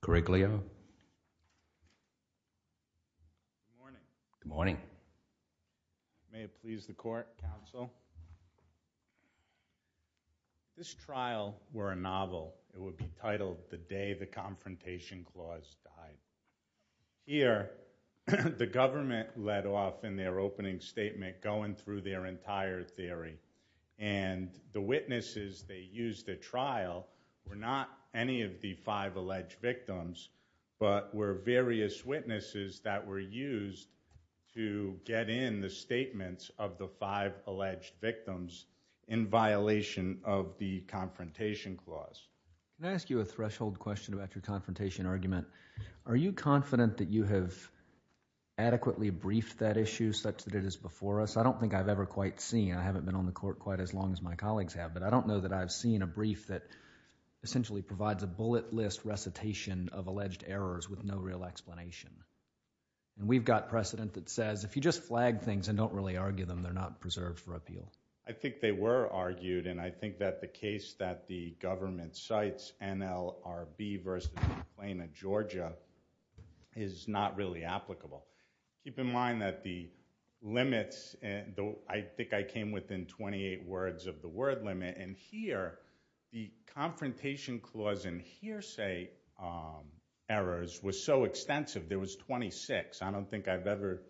Good morning. May it please the court, counsel. This trial were a novel. It would be titled The Day the Confrontation Clause Died. Here, the government led off in their opening statement going through their entire theory, and the witnesses they used at trial were not any of the five alleged victims, but were various witnesses that were used to get in the statements of the five alleged victims in violation of the confrontation clause. Can I ask you a threshold question about your confrontation argument? Are you confident that you have adequately briefed that issue such that it is before us? I don't think I've ever quite seen. I haven't been on the court quite as long as my colleagues have, but I think it's a bullet list recitation of alleged errors with no real explanation. And we've got precedent that says if you just flag things and don't really argue them, they're not preserved for appeal. I think they were argued, and I think that the case that the government cites, NLRB v. Atlanta, Georgia, is not really applicable. Keep in mind that the limits, I think I came within twenty-eight words of the word limit, and here, the confrontation clause and hearsay errors were so extensive, there was twenty-six. I don't think I've ever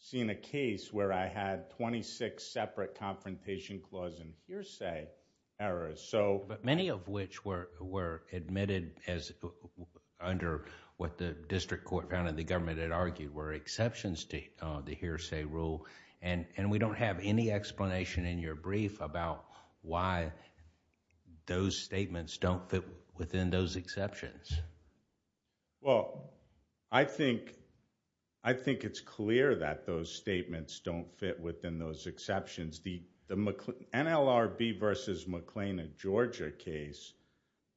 seen a case where I had twenty-six separate confrontation clause and hearsay errors. But many of which were admitted under what the district court found and the government had argued were exceptions to the hearsay rule, and we don't have any explanation in your brief about why those statements don't fit within those exceptions. I think it's clear that those statements don't fit within those exceptions. The NLRB v. McLean, Atlanta, Georgia case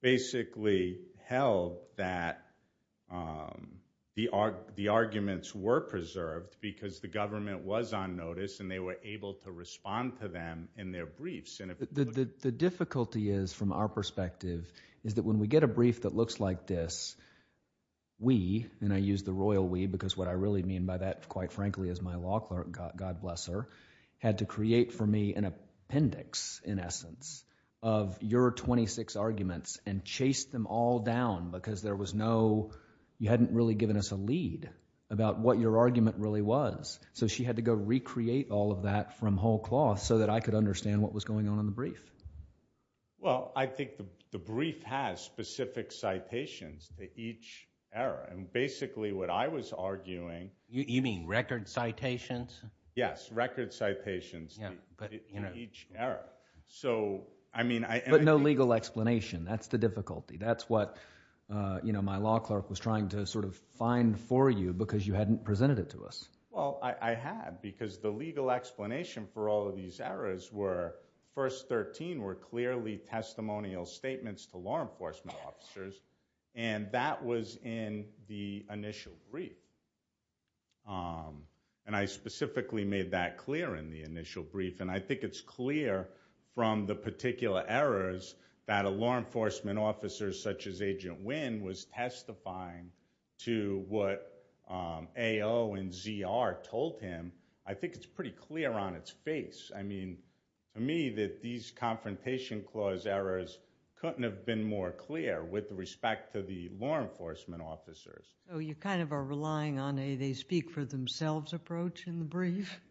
basically held that the arguments were preserved because the government was on notice and they were able to respond to them in their briefs. The difficulty is, from our perspective, is that when we get a brief that looks like this, we, and I use the royal we because what I really mean by that, quite frankly, as my of your twenty-six arguments and chased them all down because there was no, you hadn't really given us a lead about what your argument really was. So she had to go recreate all of that from whole cloth so that I could understand what was going on in the brief. Well, I think the brief has specific citations to each error, and basically what I was arguing You mean record citations? Yes, record citations to each error. But no legal explanation. That's the difficulty. That's what my law clerk was trying to sort of find for you because you hadn't presented it to us. Well, I had because the legal explanation for all of these errors were, first thirteen were clearly testimonial statements to law enforcement officers, and that was in the made that clear in the initial brief, and I think it's clear from the particular errors that a law enforcement officer such as Agent Wynn was testifying to what AO and ZR told him. I think it's pretty clear on its face. I mean, to me, that these confrontation clause errors couldn't have been more clear with respect to the law enforcement officers. So you kind of are relying on a they speak for themselves approach in the brief?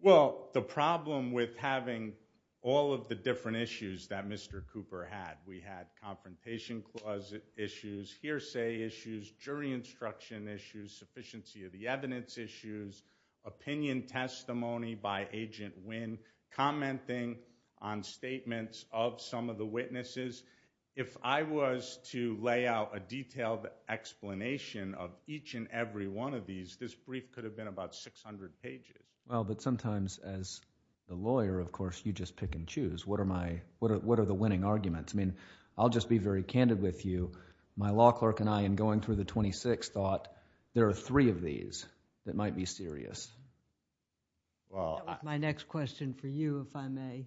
Well, the problem with having all of the different issues that Mr. Cooper had, we had confrontation clause issues, hearsay issues, jury instruction issues, sufficiency of the evidence issues, opinion testimony by Agent Wynn, commenting on statements of some of the witnesses. If I was to lay out a detailed explanation of each and every one of these, this brief could have been about six hundred pages. Well, but sometimes as a lawyer, of course, you just pick and choose. What are the winning arguments? I mean, I'll just be very candid with you. My law clerk and I in going through the twenty-sixth thought there are three of these that might be serious. Well, my next question for you, if I may,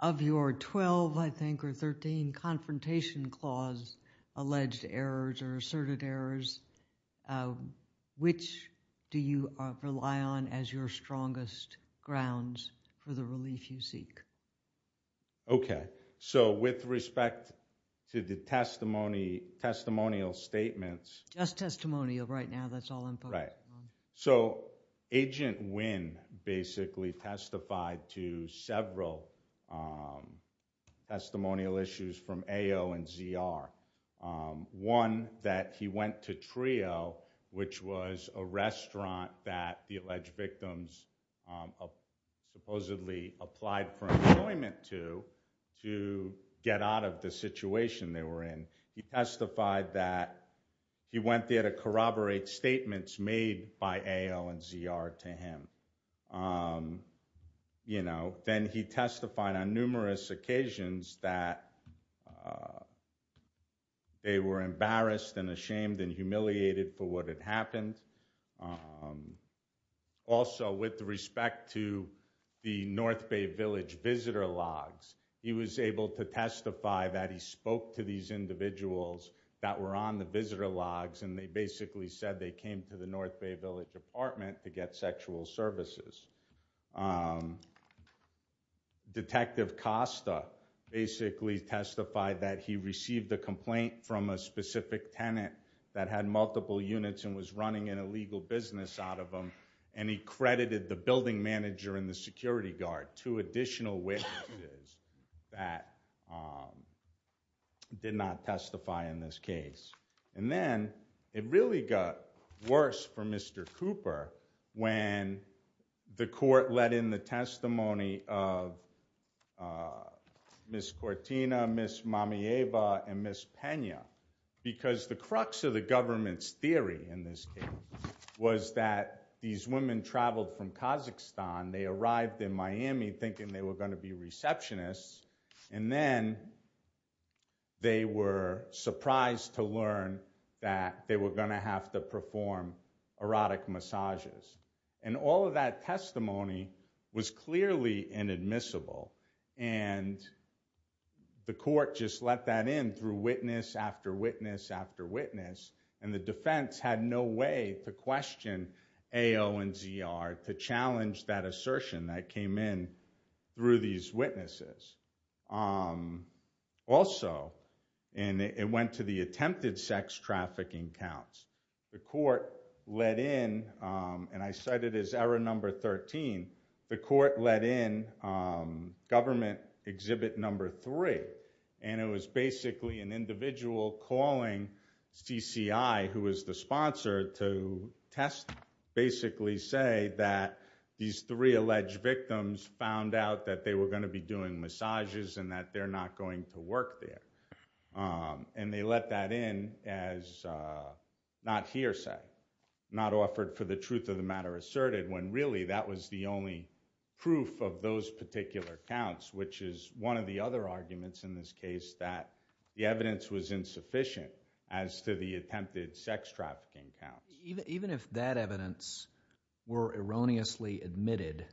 of your twelve, I think, or thirteen confrontation clause alleged errors or asserted errors, which do you rely on as your strongest grounds for the relief you seek? OK, so with respect to the testimony, testimonial statements. Just testimonial right now. That's all I'm right. So Agent Wynn basically testified to several testimonial issues from AO and ZR. One, that he went to Trio, which was a restaurant that the alleged victims supposedly applied for employment to, to get out of the situation they were in. He testified that he went there to corroborate statements made by AO and ZR to him. You know, then he testified on numerous occasions that they were embarrassed and ashamed and humiliated for what had happened. Also, with respect to the North Bay Village visitor logs, he was able to testify that he spoke to these individuals that were on the visitor logs, and they basically said they came to the North Bay Village apartment to get sexual services. Detective Costa basically testified that he received a complaint from a specific tenant that had multiple units and was running an illegal business out of them, and he credited the building manager and the security guard, two additional witnesses that did not testify in this case. And then it really got worse for Mr. Cooper when the court let in the testimony of Ms. Cortina, Ms. Mamieva, and Ms. Pena, because the crux of the government's theory in this case was that these women traveled from Kazakhstan, they arrived in Miami thinking they were going to be receptionists, and then they were surprised to learn that they were going to have to perform erotic massages. And all of that testimony was clearly inadmissible, and the court just let that in through witness after witness after witness, and the defense had no way to question AO and ZR to challenge that assertion that came in through these witnesses. Also, it went to the attempted sex trafficking counts. The court let in, and I cite it as error number 13, the court let in government exhibit number three, and it was basically an individual calling CCI, who was the sponsor, to test, basically say that these three alleged victims found out that they were going to be doing massages and that they're not going to work there. And they let that in as not hearsay, not offered for the truth of the matter asserted, when really that was the proof of those particular counts, which is one of the other arguments in this case that the evidence was insufficient as to the attempted sex trafficking counts. Even if that evidence were erroneously admitted,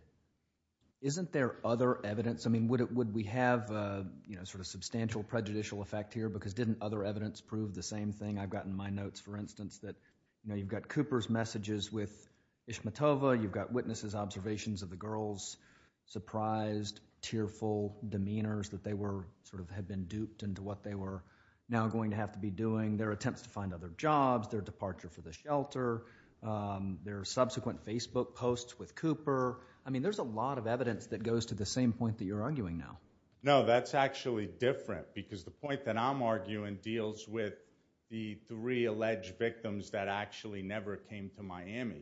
isn't there other evidence? I mean, would we have sort of substantial prejudicial effect here, because didn't other evidence prove the same thing? I've gotten my notes, for instance, that you've got Cooper's messages with the girls, surprised, tearful demeanors that they sort of had been duped into what they were now going to have to be doing, their attempts to find other jobs, their departure from the shelter, their subsequent Facebook posts with Cooper. I mean, there's a lot of evidence that goes to the same point that you're arguing now. No, that's actually different, because the point that I'm arguing deals with the three alleged victims that actually never came to AO and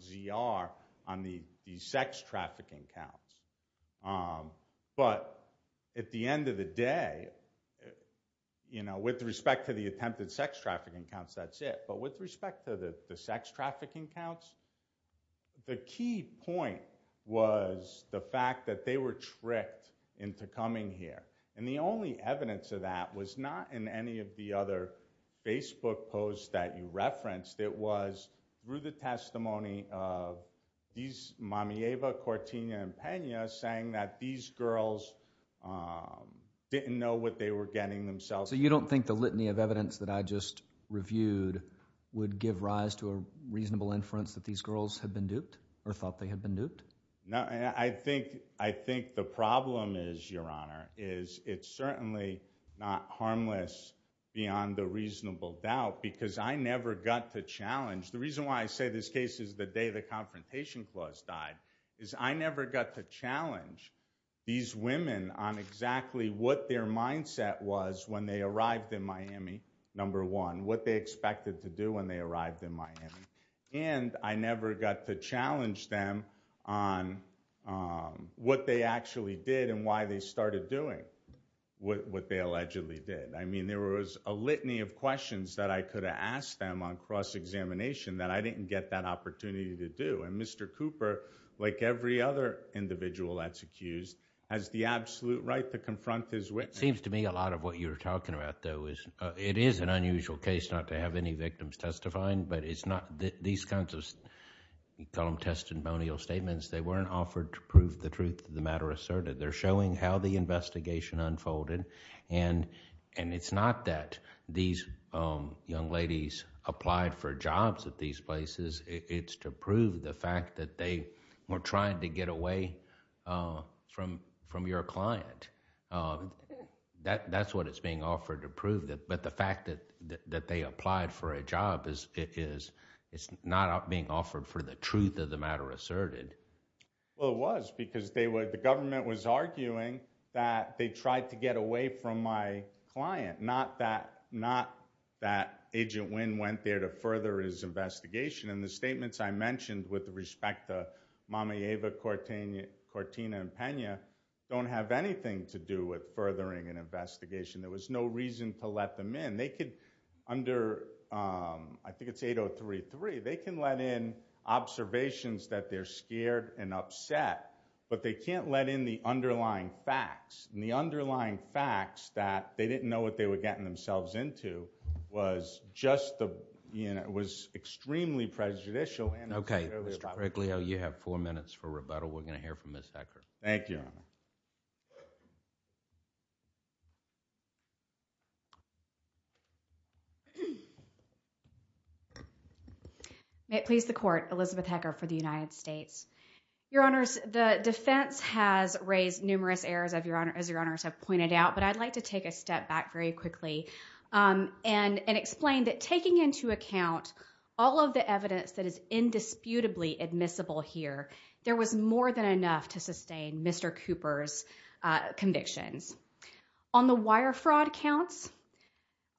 ZR on the sex trafficking counts. But at the end of the day, you know, with respect to the attempted sex trafficking counts, that's it. But with respect to the sex trafficking counts, the key point was the fact that they were tricked into coming here. And the only evidence of that was not in any of the other Facebook posts that you referenced. It was through the testimony of these Mamieva, Cortina, and Pena saying that these girls didn't know what they were getting themselves into. So you don't think the litany of evidence that I just reviewed would give rise to a reasonable inference that these girls had been duped, or thought they had been duped? No, and I think the problem is, Your Honor, is it's certainly not harmless beyond a reasonable doubt, because I never got to challenge. The reason why I say this case is the day the Confrontation Clause died, is I never got to challenge these women on exactly what their mindset was when they arrived in Miami, number one, what they expected to do when they arrived in Miami. And I never got to challenge them on what they actually did and why they started doing what they allegedly did. I mean, there was a litany of questions that I could have asked them on cross-examination that I didn't get that opportunity to do. And Mr. Cooper, like every other individual that's accused, has the absolute right to confront his witness. It seems to me a lot of what you're talking about, though, is it is an unusual case not to have any victims testifying, but it's not these kinds of, you call them testimonial statements. They weren't offered to prove the truth of the matter asserted. They're showing how the investigation unfolded, and it's not that these young ladies applied for jobs at these places. It's to prove the fact that they were trying to get away from your client. That's what it's being offered to prove, but the fact that they applied for a job, it's not being offered for the truth of the matter asserted. Well, it was because the government was arguing that they tried to get away from my client, not that Agent Wynn went there to further his investigation. And the statements I mentioned with respect to Mama Eva, Cortina, and Pena don't have anything to do with furthering an investigation. They can let in observations that they're scared and upset, but they can't let in the underlying facts, and the underlying facts that they didn't know what they were getting themselves into was extremely prejudicial. Okay, Mr. Briglio, you have four minutes for rebuttal. We're going to hear from Ms. Hecker. Thank you, Your Honor. May it please the Court, Elizabeth Hecker for the United States. Your Honors, the defense has raised numerous errors, as Your Honors have pointed out, but I'd like to take a step back very quickly and explain that taking into account all of the evidence that is indisputably admissible here, there was more than enough to sustain Mr. Cooper's convictions. On the wire fraud counts,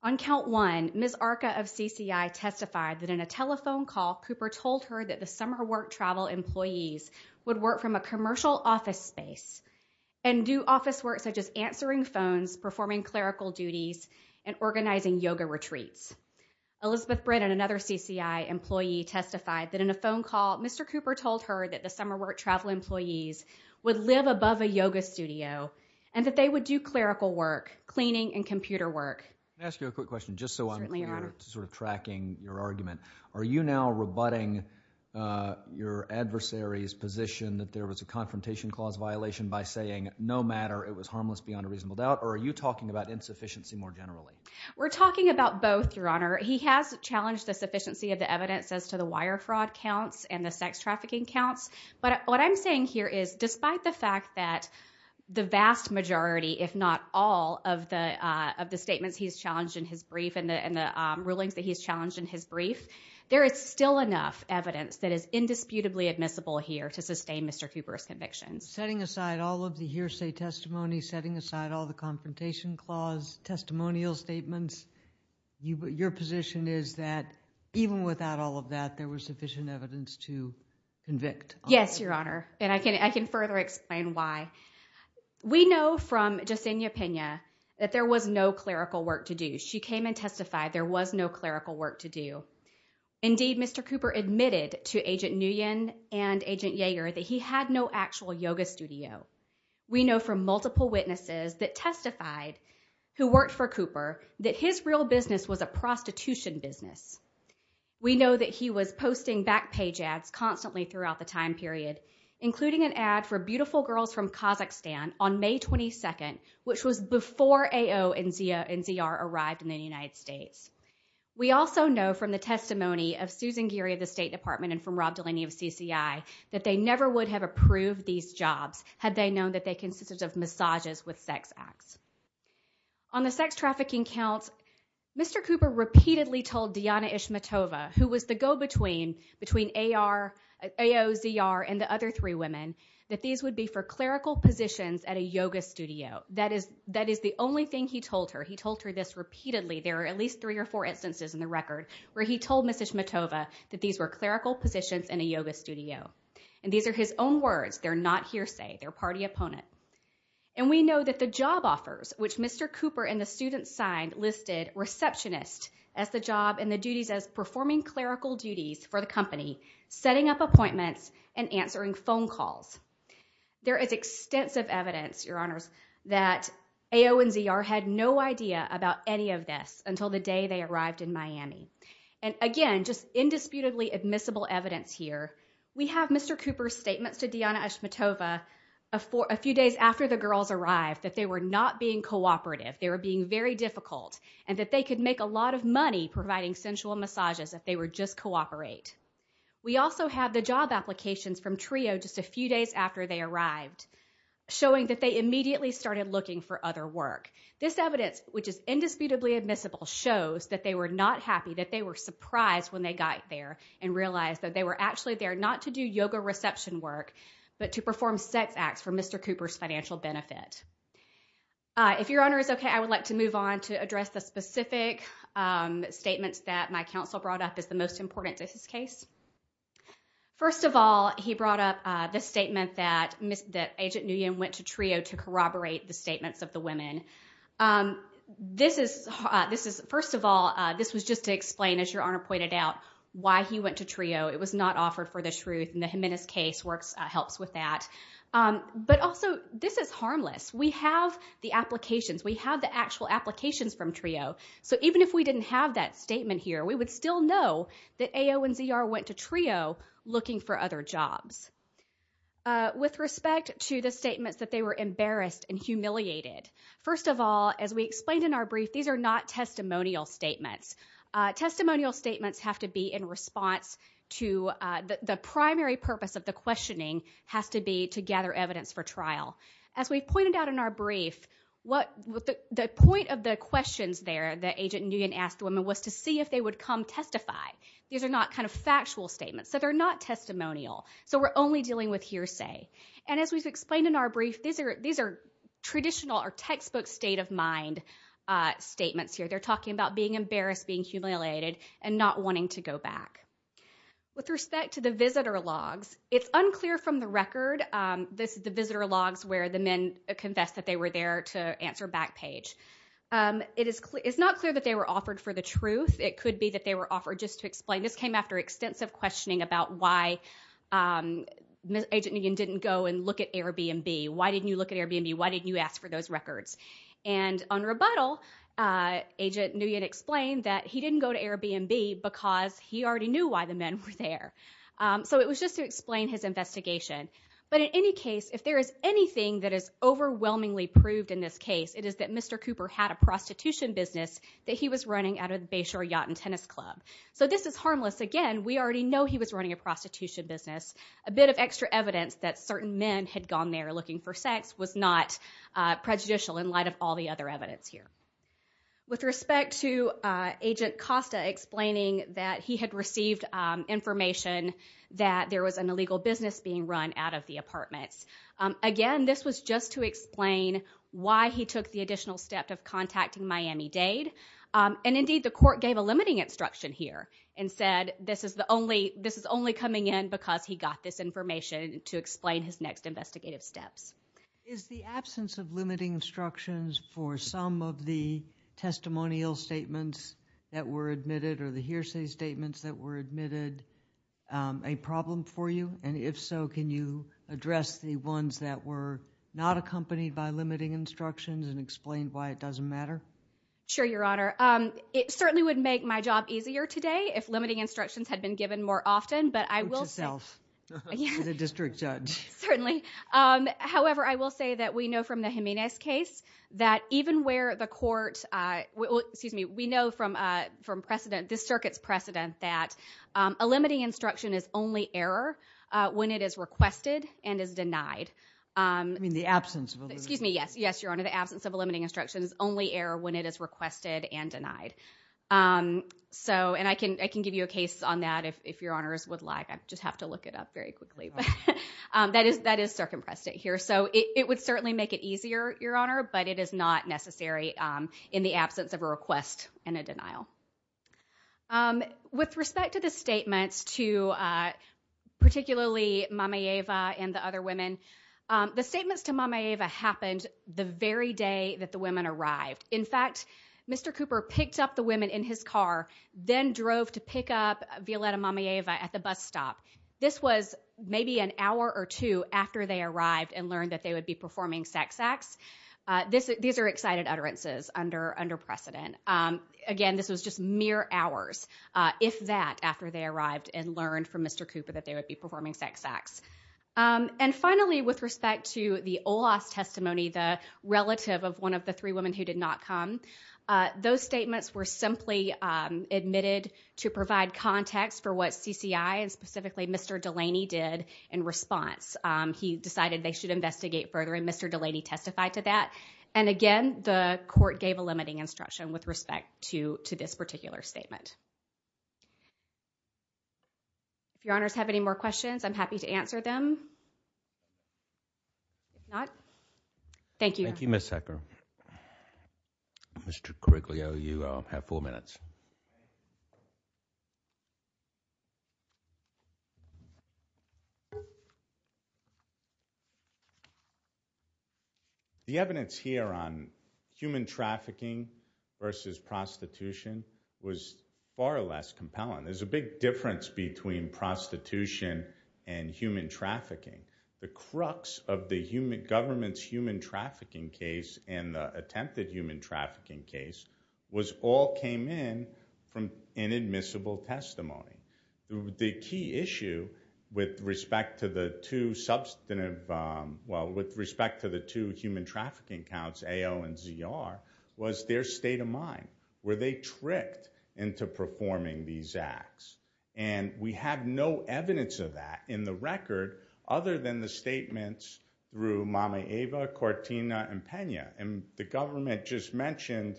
on count one, Ms. Arca of CCI testified that in a telephone call, Cooper told her that the summer work travel employees would work from a commercial office space and do office work such as answering phones, performing clerical duties, and organizing yoga retreats. Elizabeth Mr. Cooper told her that the summer work travel employees would live above a yoga studio, and that they would do clerical work, cleaning, and computer work. Can I ask you a quick question, just so I'm sort of tracking your argument? Are you now rebutting your adversary's position that there was a confrontation clause violation by saying, no matter, it was harmless beyond a reasonable doubt, or are you talking about insufficiency more generally? We're talking about both, Your Honor. He has challenged the sufficiency of the wire fraud counts and the sex trafficking counts, but what I'm saying here is, despite the fact that the vast majority, if not all, of the statements he's challenged in his brief and the rulings that he's challenged in his brief, there is still enough evidence that is indisputably admissible here to sustain Mr. Cooper's convictions. Setting aside all of the hearsay testimony, setting aside all the confrontation clause testimonial statements, your position is that even without all of that, there was sufficient evidence to convict? Yes, Your Honor, and I can further explain why. We know from Yesenia Pena that there was no clerical work to do. She came and testified there was no clerical work to do. Indeed, Mr. Cooper admitted to Agent Nguyen and Agent Yeager that he had no actual yoga studio. We know from multiple witnesses that testified who worked for Cooper that his real business was a prostitution business. We know that he was posting back page ads constantly throughout the time period, including an ad for Beautiful Girls from Kazakhstan on May 22nd, which was before AO and ZR arrived in the United States. We also know from the testimony of Susan Geary of the State Department and from Rob Delaney of CCI that they never would have approved these jobs had they known that they on the sex trafficking counts. Mr. Cooper repeatedly told Diana Ishmatova, who was the go-between between AO, ZR, and the other three women, that these would be for clerical positions at a yoga studio. That is the only thing he told her. He told her this repeatedly. There are at least three or four instances in the record where he told Ms. Ishmatova that these were clerical positions in a yoga studio, and these are his own words. They're not hearsay. They're party opponent. And we know that the job offers, which Mr. Cooper and the students signed, listed receptionist as the job and the duties as performing clerical duties for the company, setting up appointments, and answering phone calls. There is extensive evidence, Your Honors, that AO and ZR had no idea about any of this until the day they arrived in Miami. And again, just indisputably admissible evidence here, we have Mr. Cooper's statements to Diana Ishmatova a few days after the girls arrived that they were not being cooperative. They were being very difficult, and that they could make a lot of money providing sensual massages if they were just cooperate. We also have the job applications from TRIO just a few days after they arrived, showing that they immediately started looking for other work. This evidence, which is indisputably admissible, shows that they were not happy, that they were surprised when they got there and realized that they were actually there not to do yoga reception work, but to perform sex acts for Mr. Cooper's financial benefit. If Your Honor is okay, I would like to move on to address the specific statements that my counsel brought up as the most important to this case. First of all, he brought up this statement that Agent Nguyen went to TRIO to corroborate the statements of the women. First of all, this was just to explain, as Your Honor pointed out, why he went to TRIO. It was not offered for the truth, and the Jimenez case works, helps with that. But also, this is harmless. We have the applications. We have the actual applications from TRIO. So even if we didn't have that statement here, we would still know that AO and ZR went to TRIO looking for other jobs. With respect to the statements that they were embarrassed and humiliated, first of all, as we explained in our brief, these are not testimonial statements. Testimonial statements have to be in response to the primary purpose of the questioning has to be to gather evidence for trial. As we pointed out in our brief, the point of the questions there that Agent Nguyen asked the women was to see if they would come testify. These are not factual statements, so they're not testimonial. So we're only dealing with hearsay. And as we've explained in our brief, these are traditional or textbook state of mind statements here. They're talking about being embarrassed, being humiliated, and not wanting to go back. With respect to the visitor logs, it's unclear from the record. This is the visitor logs where the men confessed that they were there to answer back page. It is not clear that they were offered for the truth. It could be that they were offered just to explain. This came after extensive questioning about why Agent Nguyen didn't go and look at Airbnb. Why didn't you look at Airbnb? Agent Nguyen explained that he didn't go to Airbnb because he already knew why the men were there. So it was just to explain his investigation. But in any case, if there is anything that is overwhelmingly proved in this case, it is that Mr. Cooper had a prostitution business that he was running out of the Bayshore Yacht and Tennis Club. So this is harmless. Again, we already know he was running a prostitution business. A bit of extra evidence that certain men had gone there looking for sex was not prejudicial in light of all the other evidence here. With respect to Agent Costa explaining that he had received information that there was an illegal business being run out of the apartments. Again, this was just to explain why he took the additional step of contacting Miami-Dade. And indeed, the court gave a limiting instruction here and said this is only coming in because he got this information to explain his next of the testimonial statements that were admitted or the hearsay statements that were admitted a problem for you? And if so, can you address the ones that were not accompanied by limiting instructions and explain why it doesn't matter? Sure, Your Honor. It certainly would make my job easier today if limiting instructions had been given more often, but I will say... Put yourself to the district judge. Certainly. However, I will say that we know from the Jimenez case that even where the court, excuse me, we know from precedent, this circuit's precedent, that a limiting instruction is only error when it is requested and is denied. I mean the absence... Excuse me. Yes, Your Honor. The absence of a limiting instruction is only error when it is requested and denied. So, and I can give you a case on that if Your Honors would like. I just have to look it up very quickly, but that is circum precedent here. So, it would certainly make it easier, Your Honor, but it is not necessary in the absence of a request and a denial. With respect to the statements to particularly Mameyeva and the other women, the statements to Mameyeva happened the very day that the women arrived. In fact, Mr. Cooper picked up the women in his car, then drove to pick up Violeta Mameyeva at the bus stop. This was maybe an hour or two after they arrived and learned that they would be performing sex acts. These are excited utterances under precedent. Again, this was just mere hours, if that, after they arrived and learned from Mr. Cooper that they would be performing sex acts. And finally, with respect to the OLAWS testimony, the relative of one of the three women who did not come, those statements were simply admitted to provide context for what CCI and specifically Mr. Delaney did in response. He decided they should investigate further and Mr. Delaney testified to that. And again, the court gave a limiting instruction with respect to this particular statement. If Your Honors have any more questions, I'm happy to answer them. If not, thank you. Thank you, Ms. Hecker. Mr. Coriglio, you have four minutes. The evidence here on human trafficking versus prostitution was far less compelling. There's a big difference between prostitution and human trafficking. The crux of the government's human attempted human trafficking case was all came in from inadmissible testimony. The key issue with respect to the two human trafficking counts, AO and ZR, was their state of mind. Were they tricked into performing these acts? And we have no evidence of that in the record other than the government just mentioned,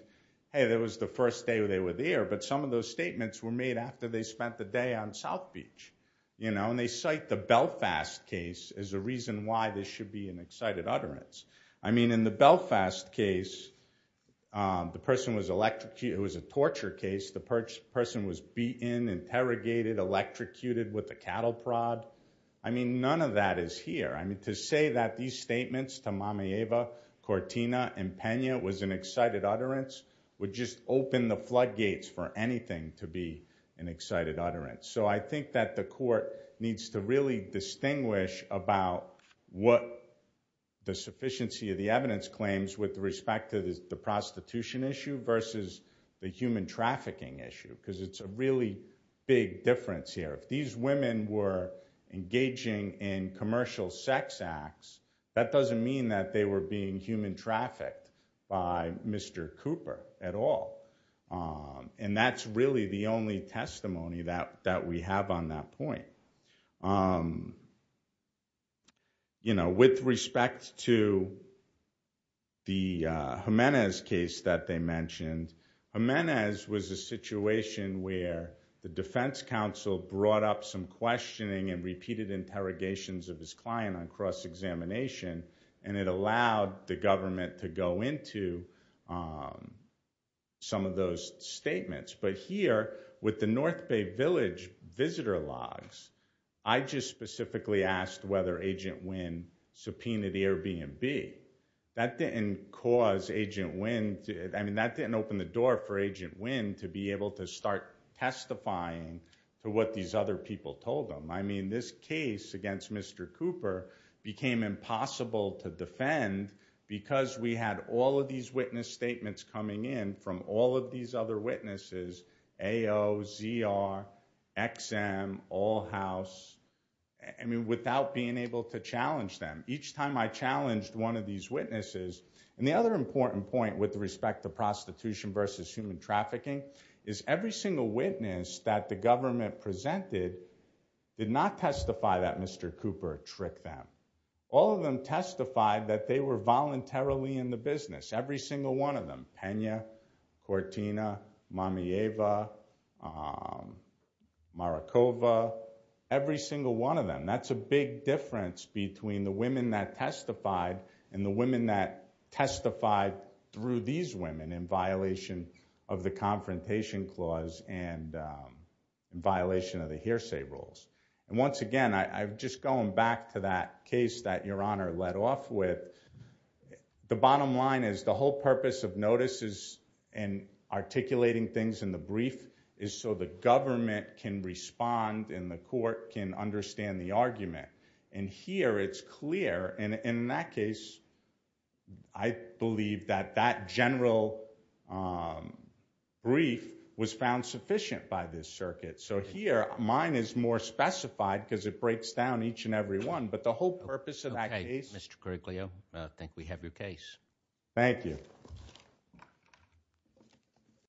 hey, that was the first day they were there. But some of those statements were made after they spent the day on South Beach. And they cite the Belfast case as a reason why this should be an excited utterance. I mean, in the Belfast case, the person was electrocuted. It was a torture case. The person was beaten, interrogated, electrocuted with a cattle prod. I mean, none of that is here. I mean, to say that these statements to Mama Eva, Cortina, and Pena was an excited utterance would just open the floodgates for anything to be an excited utterance. So I think that the court needs to really distinguish about what the sufficiency of the evidence claims with respect to the prostitution issue versus the human trafficking issue. Because it's a really big difference here. If these women were that they were being human trafficked by Mr. Cooper at all. And that's really the only testimony that we have on that point. You know, with respect to the Jimenez case that they mentioned, Jimenez was a situation where the defense counsel brought up some questioning and repeated interrogations of his client on cross-examination. And it allowed the government to go into some of those statements. But here, with the North Bay Village visitor logs, I just specifically asked whether Agent Wynn subpoenaed Airbnb. That didn't cause Agent Wynn, I mean, that didn't open the door for Agent Wynn to be able to start testifying to what these other people told them. I mean, this case against Mr. Cooper became impossible to defend because we had all of these witness statements coming in from all of these other witnesses, AO, ZR, XM, all house, I mean, without being able to challenge them. Each time I challenged one of these witnesses. And the other important point with respect to prostitution versus human trafficking is every single witness that the government presented did not testify that Mr. Cooper tricked them. All of them testified that they were voluntarily in the business. Every single one of them, Pena, Cortina, Mamieva, Marikova, every single one of them. That's a big difference between the women that testified and the women that testified through these women in violation of the Confrontation Clause and violation of the hearsay rules. And once again, I've just gone back to that case that Your Honor led off with. The bottom line is the whole purpose of notices and articulating things in the brief is so the government can respond and the court can understand the argument. And here it's clear, and in that case, I believe that that general brief was found sufficient by this circuit. So here, mine is more specified because it breaks down each and every one, but the whole purpose of that case. Mr. Kurglio, I think we have your case. Thank you.